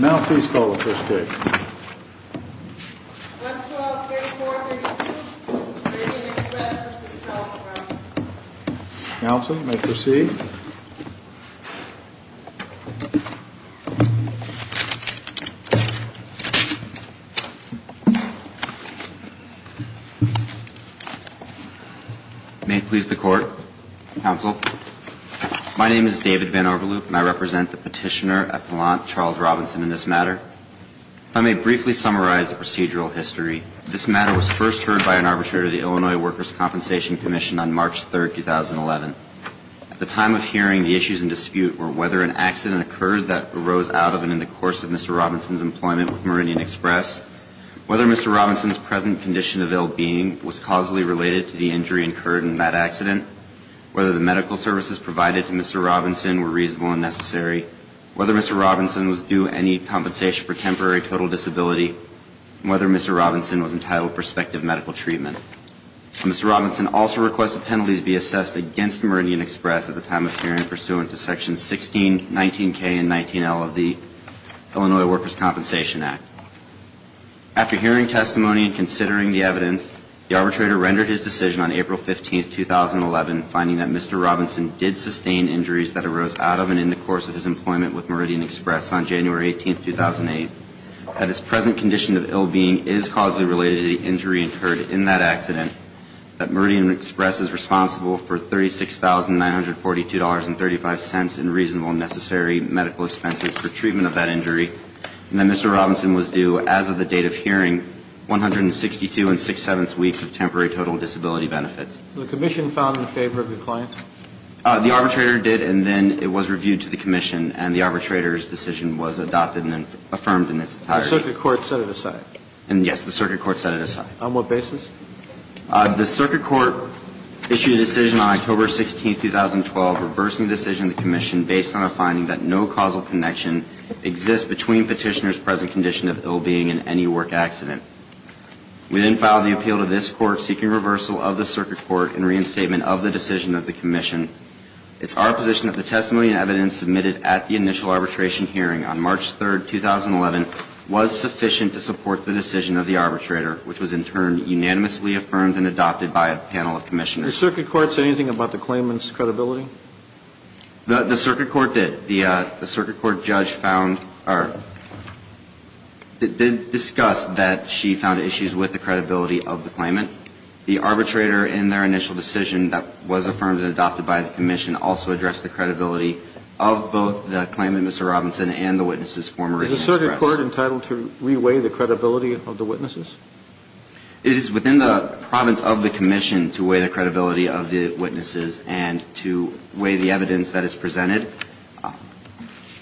Now please call the first case. 112-3432, Meridian Express v. Pellissippi. Counsel, you may proceed. May it please the court. Counsel. My name is David Van Overloop, and I represent the petitioner at Blount, Charles Robinson, in this matter. If I may briefly summarize the procedural history. This matter was first heard by an arbitrator of the Illinois Workers' Compensation Commission on March 3, 2011. At the time of hearing, the issues in dispute were whether an accident occurred that arose out of and in the course of Mr. Robinson's employment with Meridian Express, whether Mr. Robinson's present condition of ill-being was causally related to the injury incurred in that accident, whether the medical services provided to Mr. Robinson were reasonable and necessary, whether Mr. Robinson was due any compensation for temporary total disability, and whether Mr. Robinson was entitled to prospective medical treatment. Mr. Robinson also requested penalties be assessed against Meridian Express at the time of hearing pursuant to sections 16, 19K, and 19L of the Illinois Workers' Compensation Act. After hearing testimony and considering the evidence, the arbitrator rendered his decision on April 15, 2011, finding that Mr. Robinson did sustain injuries that arose out of and in the course of his employment with Meridian Express on January 18, 2008, that his present condition of ill-being is causally related to the injury incurred in that accident, that Meridian Express is responsible for $36,942.35 in reasonable and necessary medical expenses for treatment of that injury, and that Mr. Robinson was due, as of the date of hearing, 162-6-7 weeks of temporary total disability benefits. So the commission found in favor of the client? The arbitrator did, and then it was reviewed to the commission, and the arbitrator's decision was adopted and affirmed in its entirety. The circuit court set it aside? Yes, the circuit court set it aside. On what basis? The circuit court issued a decision on October 16, 2012, reversing the decision of the commission, based on a finding that no causal connection exists between petitioner's present condition of ill-being and any work accident. We then filed the appeal to this court, seeking reversal of the circuit court and reinstatement of the decision of the commission. It's our position that the testimony and evidence submitted at the initial arbitration hearing on March 3, 2011, was sufficient to support the decision of the arbitrator, which was in turn unanimously affirmed and adopted by a panel of commissioners. Did the circuit court say anything about the claimant's credibility? The circuit court did. The circuit court judge found or discussed that she found issues with the credibility of the claimant. The arbitrator, in their initial decision that was affirmed and adopted by the commission, also addressed the credibility of both the claimant, Mr. Robinson, and the witnesses, former agents of press. Is the circuit court entitled to re-weigh the credibility of the witnesses? It is within the province of the commission to weigh the credibility of the witnesses and to weigh the evidence that is presented.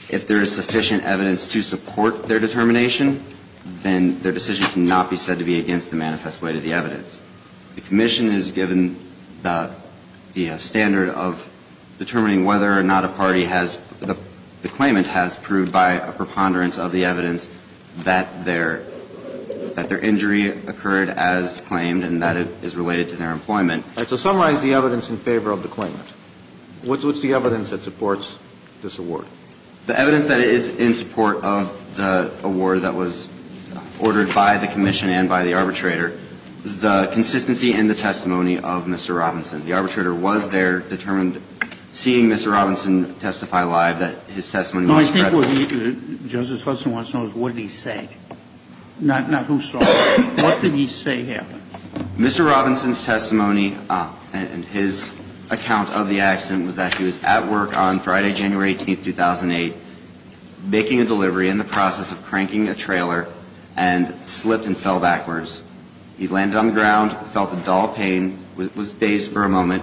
If there is sufficient evidence to support their determination, then their decision cannot be said to be against the manifest weight of the evidence. The commission is given the standard of determining whether or not a party has the claimant The evidence that is in support of the award that was ordered by the commission and by the arbitrator is the consistency and the testimony of Mr. Robinson. The arbitrator was there, determined seeing Mr. Robinson testify live that his testimony was true. I think what he, Justice Hudson wants to know is what did he say? Not who saw it. What did he say happened? Mr. Robinson's testimony and his account of the accident was that he was at work on Friday, January 18, 2008, making a delivery in the process of cranking a trailer and slipped and fell backwards. He landed on the ground, felt a dull pain, was dazed for a moment,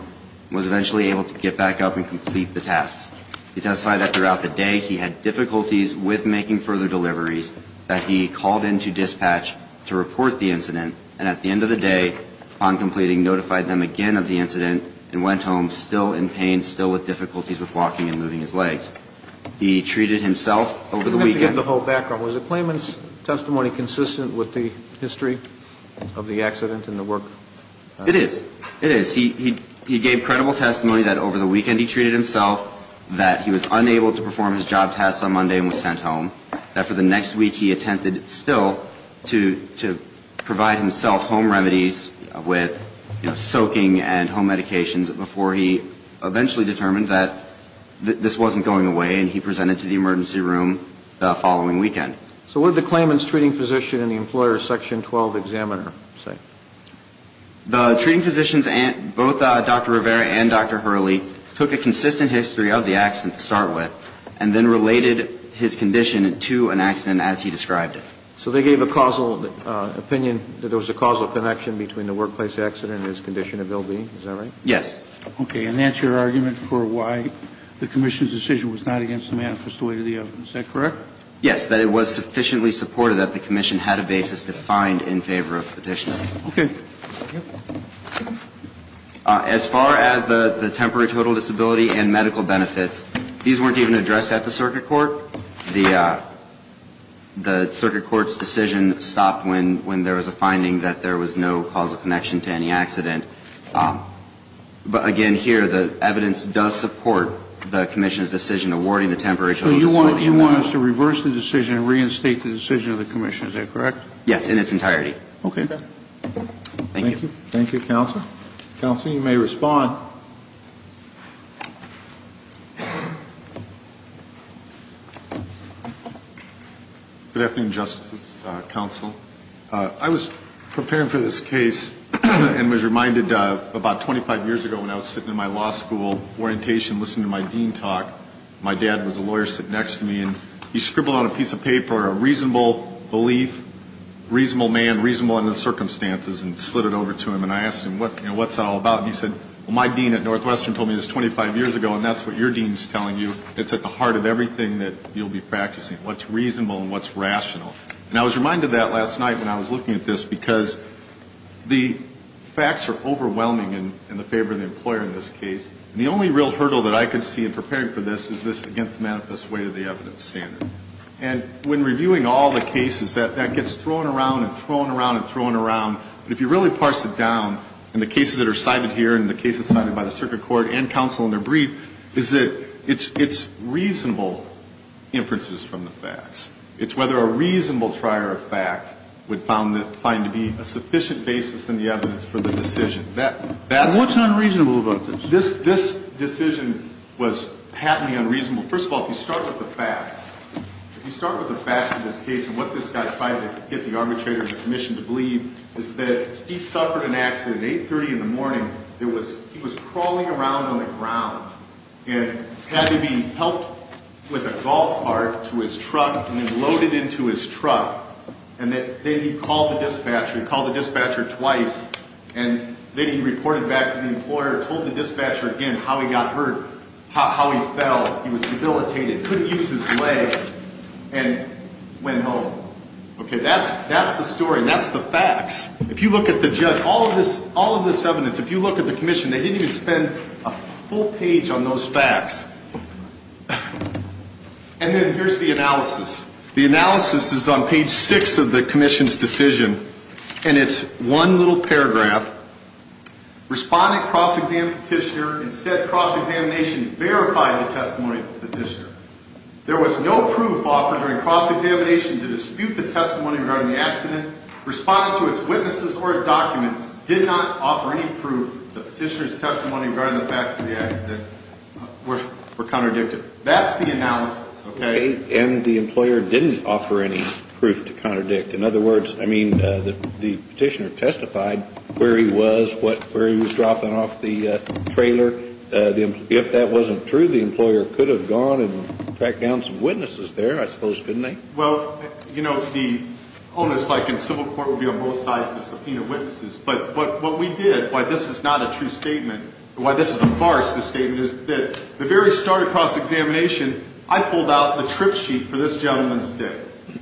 was eventually able to get back up and complete the tasks. He testified that throughout the day he had difficulties with making further deliveries, that he called in to dispatch to report the incident, and at the end of the day, upon completing, notified them again of the incident and went home still in pain, still with difficulties with walking and moving his legs. He treated himself over the weekend. You have to give the whole background. Was the claimant's testimony consistent with the history of the accident and the work? It is. It is. He gave credible testimony that over the weekend he treated himself, that he was unable to perform his job tasks on Monday and was sent home, that for the next week he attempted still to provide himself home remedies with, you know, soaking and home medications before he eventually determined that this wasn't going away and he presented to the emergency room the following weekend. So what did the claimant's treating physician and the employer's Section 12 examiner say? The treating physician, both Dr. Rivera and Dr. Hurley, took a consistent history of the accident to start with and then related his condition to an accident as he described it. So they gave a causal opinion that there was a causal connection between the workplace accident and his condition of ill-being. Is that right? Yes. Okay. And that's your argument for why the commission's decision was not against the manifesto aid of the evidence. Is that correct? Yes, that it was sufficiently supported that the commission had a basis defined in favor of petitioner. Okay. As far as the temporary total disability and medical benefits, these weren't even addressed at the circuit court. The circuit court's decision stopped when there was a finding that there was no causal connection to any accident. But, again, here the evidence does support the commission's decision awarding the temporary total disability. So you want us to reverse the decision and reinstate the decision of the commission. Is that correct? Yes, in its entirety. Okay. Thank you. Thank you, Counsel. Counsel, you may respond. Good afternoon, Justices, Counsel. I was preparing for this case and was reminded about 25 years ago when I was sitting in my law school orientation listening to my dean talk, my dad was a lawyer sitting next to me, and he scribbled on a piece of paper a reasonable belief, reasonable man, reasonable in the circumstances, and slid it over to him and I asked him, you know, what's that all about? And he said, well, my dean at Northwestern told me this 25 years ago and that's what your dean's telling you. It's at the heart of everything that you'll be practicing, what's reasonable and what's rational. And I was reminded of that last night when I was looking at this because the facts are overwhelming in the favor of the employer in this case. And the only real hurdle that I could see in preparing for this is this against the manifest way of the evidence standard. And when reviewing all the cases, that gets thrown around and thrown around and thrown around. But if you really parse it down, in the cases that are cited here and the cases cited by the circuit court and counsel in their brief, is that it's reasonable inferences from the facts. It's whether a reasonable trier of fact would find to be a sufficient basis in the evidence for the decision. That's... What's unreasonable about this? This decision was patently unreasonable. First of all, if you start with the facts. If you start with the facts of this case and what this guy tried to get the arbitrator and the commission to believe, is that he suffered an accident at 8.30 in the morning. He was crawling around on the ground and had to be helped with a golf cart to his truck and then loaded into his truck. And then he called the dispatcher. He called the dispatcher twice. And then he reported back to the employer, told the dispatcher again how he got hurt, how he fell. He was debilitated, couldn't use his legs, and went home. Okay, that's the story and that's the facts. If you look at the judge, all of this evidence, if you look at the commission, they didn't even spend a full page on those facts. And then here's the analysis. The analysis is on page 6 of the commission's decision, and it's one little paragraph. Respondent cross-examined petitioner and said cross-examination verified the testimony of the petitioner. There was no proof offered during cross-examination to dispute the testimony regarding the accident. Respondent, to its witnesses or documents, did not offer any proof that the petitioner's testimony regarding the facts of the accident were contradicted. That's the analysis, okay? And the employer didn't offer any proof to contradict. In other words, I mean, the petitioner testified where he was, where he was dropping off the trailer. If that wasn't true, the employer could have gone and tracked down some witnesses there, I suppose, couldn't they? Well, you know, the onus, like in civil court, would be on both sides to subpoena witnesses. But what we did, why this is not a true statement, why this is a farce, this statement, is that the very start of cross-examination, I pulled out the trip sheet for this gentleman's day,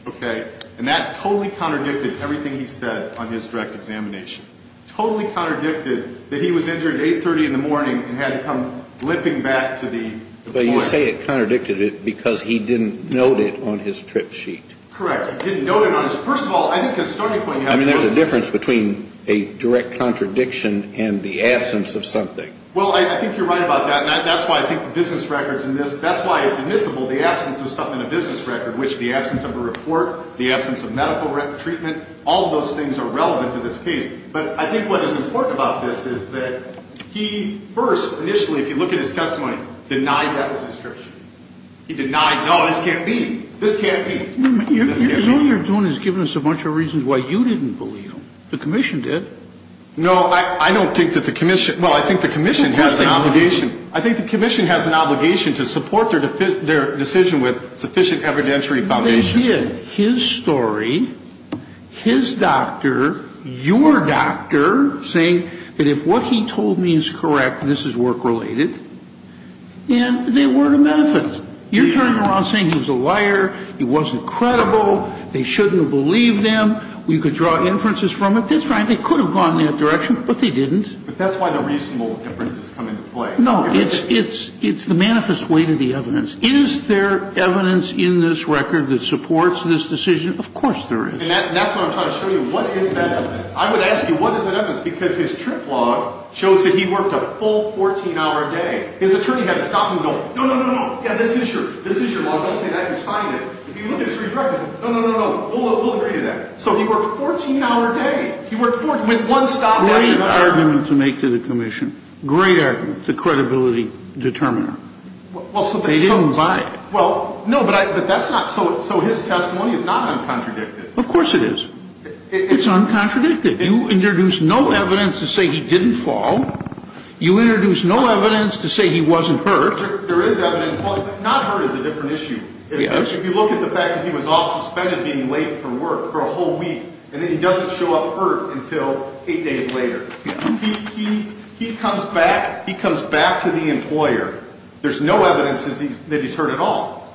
okay? And that totally contradicted everything he said on his direct examination. Totally contradicted that he was injured at 8.30 in the morning and had to come limping back to the point. But you say it contradicted it because he didn't note it on his trip sheet. Correct. He didn't note it on his. First of all, I think his starting point. I mean, there's a difference between a direct contradiction and the absence of something. Well, I think you're right about that. And that's why I think business records in this, that's why it's admissible the absence of something in a business record, which the absence of a report, the absence of medical treatment, all of those things are relevant to this case. But I think what is important about this is that he first initially, if you look at his testimony, denied that was his trip sheet. He denied, no, this can't be. This can't be. All you're doing is giving us a bunch of reasons why you didn't believe him. The commission did. No, I don't think that the commission. Well, I think the commission has an obligation. I think the commission has an obligation to support their decision with sufficient evidentiary foundation. They did. His story, his doctor, your doctor saying that if what he told me is correct, this is work-related, then they were to benefit. You're turning around saying he's a liar. He wasn't credible. They shouldn't have believed him. We could draw inferences from it. That's right. They could have gone in that direction, but they didn't. But that's why the reasonable inferences come into play. No, it's the manifest way to the evidence. Is there evidence in this record that supports this decision? Of course there is. And that's what I'm trying to show you. What is that evidence? I would ask you, what is that evidence? Because his trip log shows that he worked a full 14-hour day. His attorney had to stop him and go, no, no, no, no, no, yeah, this is your log. Don't say that. You signed it. If you look at his redirected, no, no, no, no, we'll agree to that. So he worked a 14-hour day. He went one stop after another. Great argument to make to the commission. Great argument. The credibility determiner. They didn't buy it. Well, no, but that's not so. So his testimony is not uncontradicted. Of course it is. It's uncontradicted. You introduce no evidence to say he didn't fall. You introduce no evidence to say he wasn't hurt. There is evidence. Not hurt is a different issue. Yes. If you look at the fact that he was off, suspended, being late for work for a whole week, and then he doesn't show up hurt until eight days later. He comes back. He comes back to the employer. There's no evidence that he's hurt at all.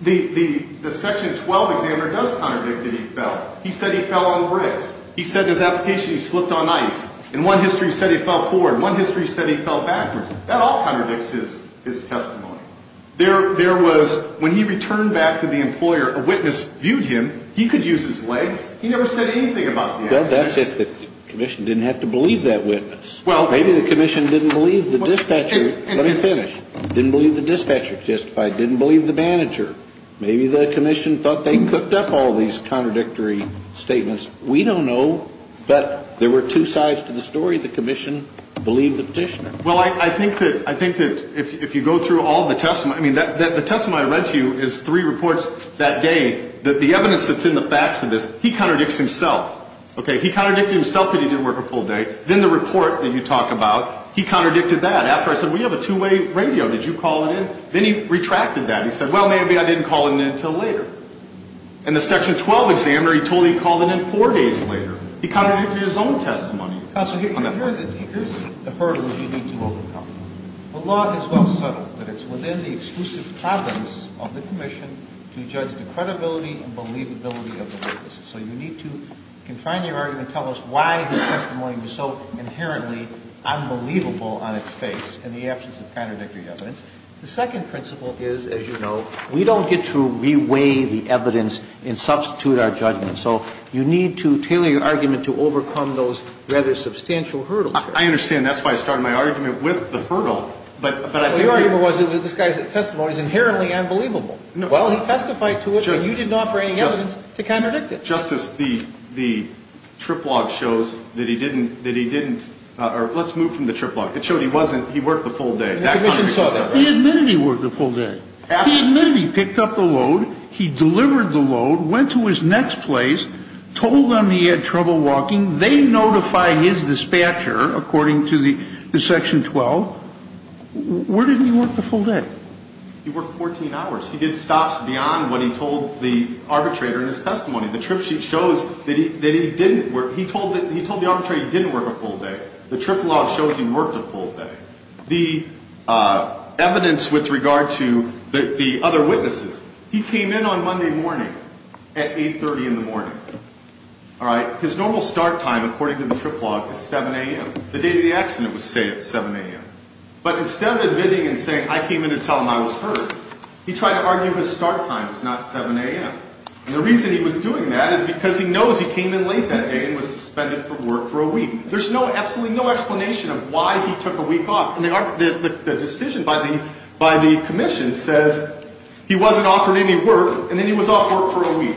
The Section 12 examiner does contradict that he fell. He said he fell on the bricks. He said in his application he slipped on ice. In one history he said he fell forward. In one history he said he fell backwards. That all contradicts his testimony. There was, when he returned back to the employer, a witness viewed him. He could use his legs. He never said anything about the accident. Well, that's if the commission didn't have to believe that witness. Maybe the commission didn't believe the dispatcher. Let me finish. Didn't believe the dispatcher, justified. Didn't believe the manager. Maybe the commission thought they cooked up all these contradictory statements. We don't know. But there were two sides to the story. The commission believed the petitioner. Well, I think that if you go through all the testimony, I mean, the testimony I read to you is three reports that day. The evidence that's in the facts of this, he contradicts himself. Okay, he contradicted himself that he didn't work a full day. Then the report that you talk about, he contradicted that. After I said, well, you have a two-way radio. Did you call it in? Then he retracted that. He said, well, maybe I didn't call it in until later. And the Section 12 examiner, he told me he called it in four days later. He contradicted his own testimony. Counsel, here's the hurdle you need to overcome. The law is well subtle, but it's within the exclusive province of the commission to judge the credibility and believability of the witnesses. So you need to confine your argument, tell us why his testimony was so inherently unbelievable on its face in the absence of contradictory evidence. The second principle is, as you know, we don't get to re-weigh the evidence and substitute our judgment. So you need to tailor your argument to overcome those rather substantial hurdles. I understand. That's why I started my argument with the hurdle. Your argument was that this guy's testimony is inherently unbelievable. Well, he testified to it, but you didn't offer any evidence to contradict it. Justice, the trip log shows that he didn't or let's move from the trip log. It showed he wasn't, he worked the full day. The commission saw that. He admitted he worked the full day. He admitted he picked up the load. He delivered the load. Went to his next place, told them he had trouble walking. They notify his dispatcher according to the section 12. Where did he work the full day? He worked 14 hours. He did stops beyond what he told the arbitrator in his testimony. The trip sheet shows that he didn't work, he told the arbitrator he didn't work a full day. The trip log shows he worked a full day. The evidence with regard to the other witnesses, he came in on Monday morning. At 8.30 in the morning. All right? His normal start time according to the trip log is 7 a.m. The day of the accident was set at 7 a.m. But instead of admitting and saying I came in to tell him I was hurt, he tried to argue his start time was not 7 a.m. And the reason he was doing that is because he knows he came in late that day and was suspended from work for a week. There's absolutely no explanation of why he took a week off. The decision by the commission says he wasn't offered any work and then he was off work for a week.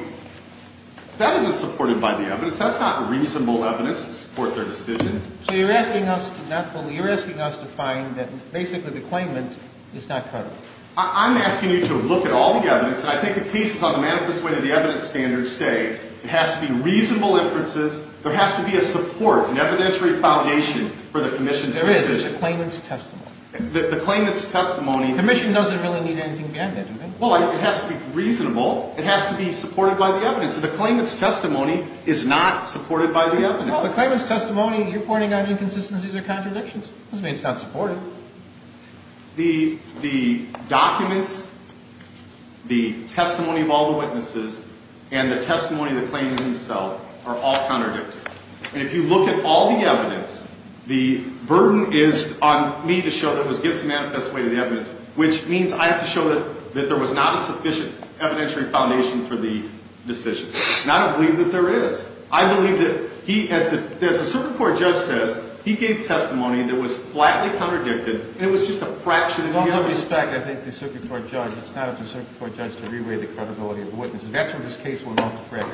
That isn't supported by the evidence. That's not reasonable evidence to support their decision. So you're asking us to not believe, you're asking us to find that basically the claimant is not hurt. I'm asking you to look at all the evidence. And I think the cases on the manifest way to the evidence standards say it has to be reasonable inferences. There has to be a support, an evidentiary foundation for the commission's decision. There is. There's a claimant's testimony. The claimant's testimony... The commission doesn't really need anything beyond that, do they? Well, it has to be reasonable. It has to be supported by the evidence. The claimant's testimony is not supported by the evidence. Well, the claimant's testimony, you're pointing out inconsistencies or contradictions. Doesn't mean it's not supported. The documents, the testimony of all the witnesses, and the testimony of the claimant himself are all contradictory. And if you look at all the evidence, the burden is on me to show that it was against the manifest way to the evidence, which means I have to show that there was not a sufficient evidentiary foundation for the decision. And I don't believe that there is. I believe that he, as the circuit court judge says, he gave testimony that was flatly contradicted, and it was just a fraction of the evidence. With all due respect, I think the circuit court judge, it's not up to the circuit court judge to re-weigh the credibility of the witnesses. That's where this case went off the track.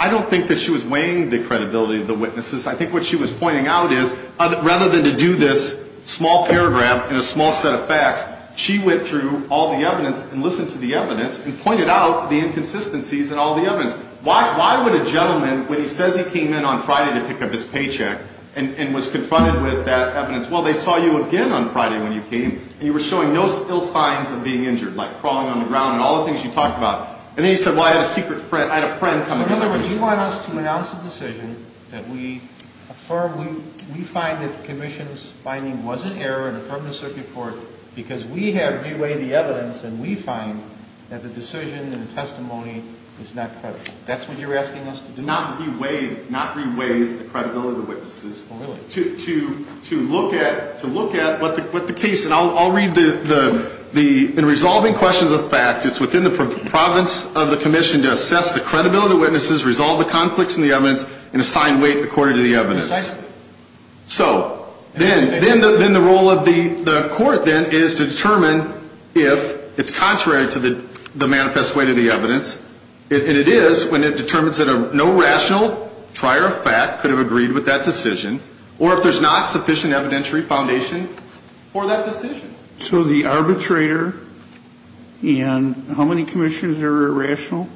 I don't think that she was weighing the credibility of the witnesses. I think what she was pointing out is rather than to do this small paragraph in a small set of facts, she went through all the evidence and listened to the evidence and pointed out the inconsistencies in all the evidence. Why would a gentleman, when he says he came in on Friday to pick up his paycheck and was confronted with that evidence, well, they saw you again on Friday when you came, and you were showing no ill signs of being injured, like crawling on the ground and all the things you talked about. And then he said, well, I had a secret friend. I had a friend come in. In other words, you want us to announce a decision that we affirm, we find that the commission's finding was an error in affirming the circuit court because we have re-weighed the evidence and we find that the decision and the testimony is not credible. That's what you're asking us to do? Not re-weigh the credibility of the witnesses. Oh, really? To look at what the case, and I'll read the, in resolving questions of fact, it's within the province of the commission to assess the credibility of the witnesses, resolve the conflicts in the evidence, and assign weight according to the evidence. So then the role of the court then is to determine if it's contrary to the manifest weight of the evidence, and it is when it determines that no rational trier of fact could have agreed with that decision or if there's not sufficient evidentiary foundation for that decision. So the arbitrator and how many commissioners are irrational?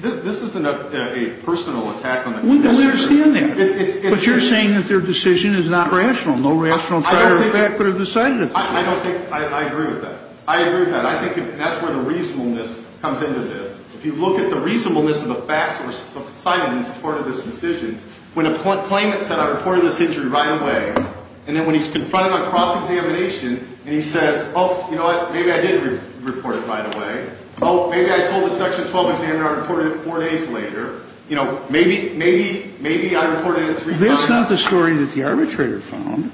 This isn't a personal attack on the commissioners. We understand that. But you're saying that their decision is not rational, no rational trier of fact could have decided it. I don't think, I agree with that. I agree with that. I think that's where the reasonableness comes into this. If you look at the reasonableness of the facts that were cited in support of this decision, when a claimant said I reported this injury right away, and then when he's confronted on cross-examination and he says, oh, you know what? Maybe I did report it right away. Oh, maybe I told the section 12 examiner I reported it four days later. You know, maybe, maybe, maybe I reported it three times. That's not the story that the arbitrator found.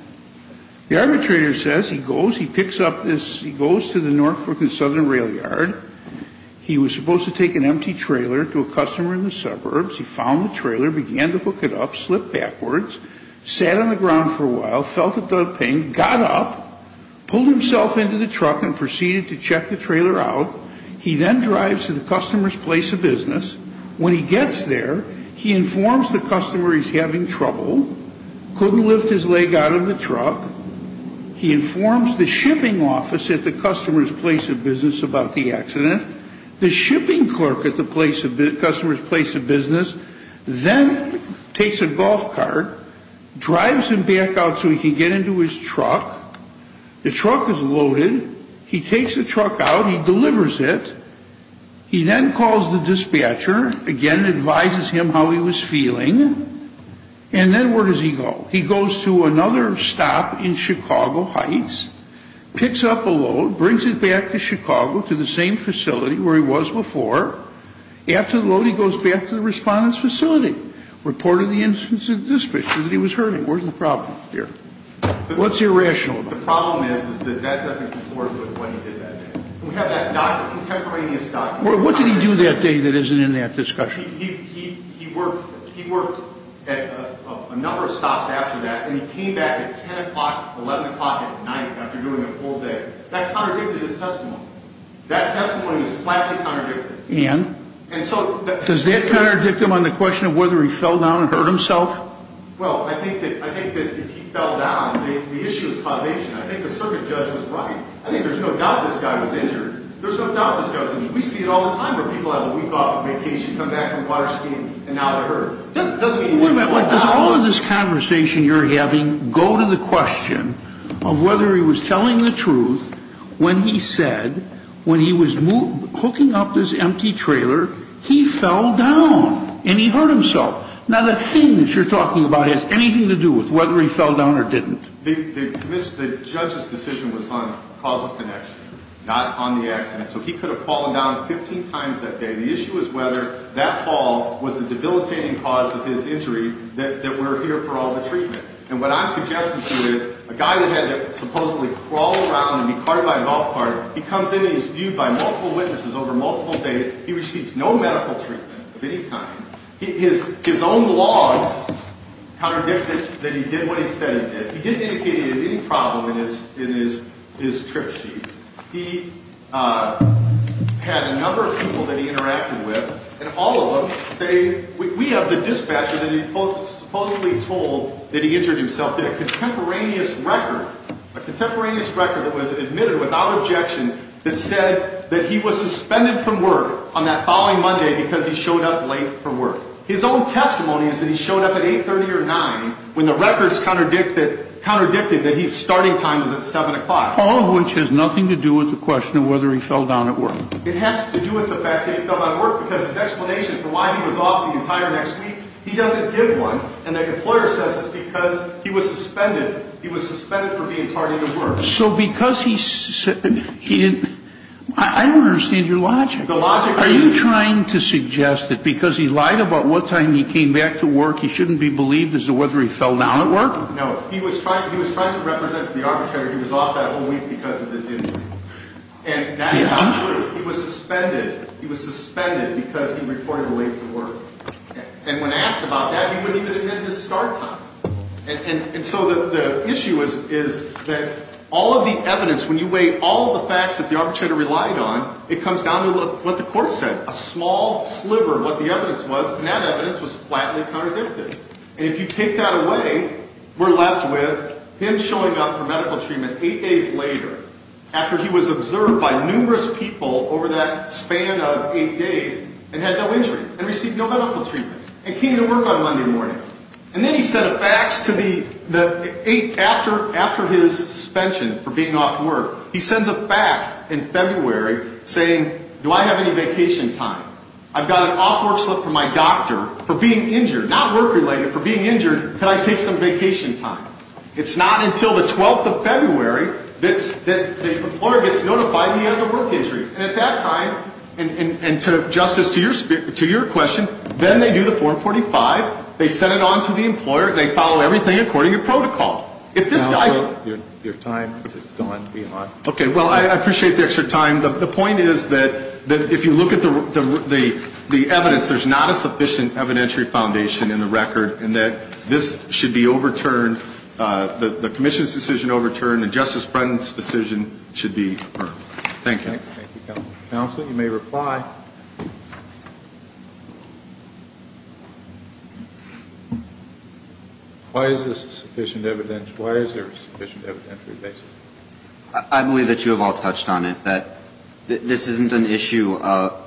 The arbitrator says he goes, he picks up this, he goes to the Norfolk and Southern rail yard. He was supposed to take an empty trailer to a customer in the suburbs. He found the trailer, began to hook it up, slipped backwards, sat on the ground for a while, felt a dull pain, got up, pulled himself into the truck and proceeded to check the trailer out. He then drives to the customer's place of business. When he gets there, he informs the customer he's having trouble, couldn't lift his leg out of the truck. He informs the shipping office at the customer's place of business about the accident. The shipping clerk at the customer's place of business then takes a golf cart, drives him back out so he can get into his truck. The truck is loaded. He takes the truck out. He delivers it. He then calls the dispatcher, again, advises him how he was feeling. And then where does he go? He goes to another stop in Chicago Heights, picks up a load, brings it back to Chicago to the same facility where he was before. After the load, he goes back to the respondent's facility, reported the instance of the dispatcher that he was hurting. Where's the problem here? What's irrational about it? The problem is that that doesn't conform to what he did that day. We have that non-contemporaneous document. Well, what did he do that day that isn't in that discussion? He worked at a number of stops after that, and he came back at 10 o'clock, 11 o'clock at night after doing a full day. That contradicted his testimony. That testimony was flatly contradicted. And? Does that contradict him on the question of whether he fell down and hurt himself? Well, I think that if he fell down, the issue is causation. I think the circuit judge was right. I think there's no doubt this guy was injured. There's no doubt this guy was injured. We see it all the time where people have a week off vacation, come back from water skiing, and now they're hurt. Wait a minute. Does all of this conversation you're having go to the question of whether he was telling the truth when he said, when he was hooking up this empty trailer, he fell down and he hurt himself? Now, the thing that you're talking about has anything to do with whether he fell down or didn't. The judge's decision was on causal connection, not on the accident. So he could have fallen down 15 times that day. The issue is whether that fall was the debilitating cause of his injury that we're here for all the treatment. And what I'm suggesting to you is a guy that had to supposedly crawl around and be carried by a golf cart, he comes in and he's viewed by multiple witnesses over multiple days. He receives no medical treatment of any kind. His own logs contradicted that he did what he said he did. He didn't indicate any problem in his trip sheets. He had a number of people that he interacted with, and all of them say, we have the dispatcher that he supposedly told that he injured himself to a contemporaneous record, a contemporaneous record that was admitted without objection that said that he was suspended from work on that following Monday because he showed up late for work. His own testimony is that he showed up at 8.30 or 9 when the records contradicted that his starting time was at 7 o'clock. All of which has nothing to do with the question of whether he fell down at work. It has to do with the fact that he fell down at work because his explanation for why he was off the entire next week, he doesn't give one. And the employer says it's because he was suspended. He was suspended for being tardy to work. So because he didn't, I don't understand your logic. Are you trying to suggest that because he lied about what time he came back to work, he shouldn't be believed as to whether he fell down at work? No. He was trying to represent to the arbitrator he was off that whole week because of this injury. And that is not true. He was suspended. He was suspended because he reported late for work. And when asked about that, he wouldn't even admit his start time. And so the issue is that all of the evidence, when you weigh all of the facts that the arbitrator relied on, it comes down to what the court said. A small sliver of what the evidence was, and that evidence was flatly contradicted. And if you take that away, we're left with him showing up for medical treatment 8 days later after he was observed by numerous people over that span of 8 days and had no injury and received no medical treatment and came to work on Monday morning. And then he sent a fax to the, after his suspension for being off work, he sends a fax in February saying, do I have any vacation time? I've got an off work slip from my doctor for being injured. Not work related, for being injured, can I take some vacation time? It's not until the 12th of February that the employer gets notified he has a work injury. And at that time, and Justice, to your question, then they do the form 45, they send it on to the employer, and they follow everything according to protocol. If this guy goes. Your time has gone beyond. Okay. Well, I appreciate the extra time. The point is that if you look at the evidence, there's not a sufficient evidentiary foundation in the record in that this should be overturned, the commission's decision overturned, and Justice Brendan's decision should be affirmed. Thank you. Thank you, Counsel. Counsel, you may reply. Why is this sufficient evidence? Why is there a sufficient evidentiary basis? I believe that you have all touched on it, that this isn't an issue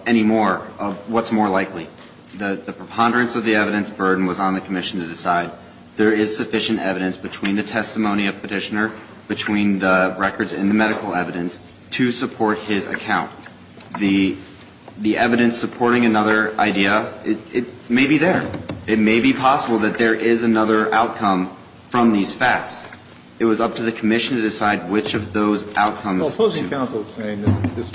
anymore of what's more likely. The preponderance of the evidence burden was on the commission to decide. There is sufficient evidence between the testimony of Petitioner, between the records and the medical evidence, to support his account. The evidence supporting another idea, it may be there. It may be possible that there is another outcome from these facts. It was up to the commission to decide which of those outcomes. Well, opposing counsel is saying this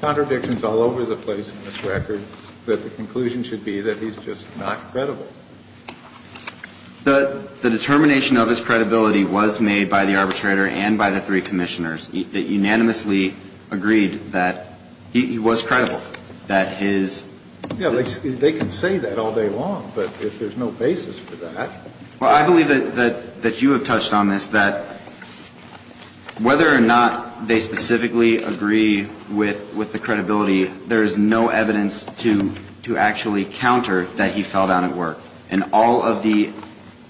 contradiction is all over the place in this record, that the conclusion should be that he's just not credible. The determination of his credibility was made by the arbitrator and by the three commissioners that unanimously agreed that he was credible, that his ---- Yeah, they can say that all day long, but if there's no basis for that ---- Well, I believe that you have touched on this, that whether or not they specifically agree with the credibility, there is no evidence to actually counter that he fell down at work. And all of the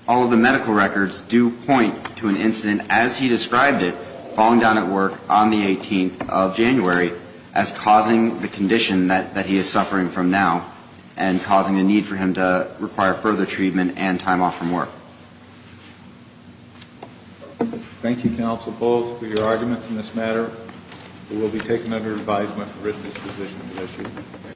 medical records do point to an incident as he described it, falling down at work on the 18th of January, as causing the condition that he is suffering from now, and causing a need for him to require further treatment and time off from work. Thank you, Counsel Bowles, for your arguments in this matter. It will be taken under advisement for written disposition of the issue.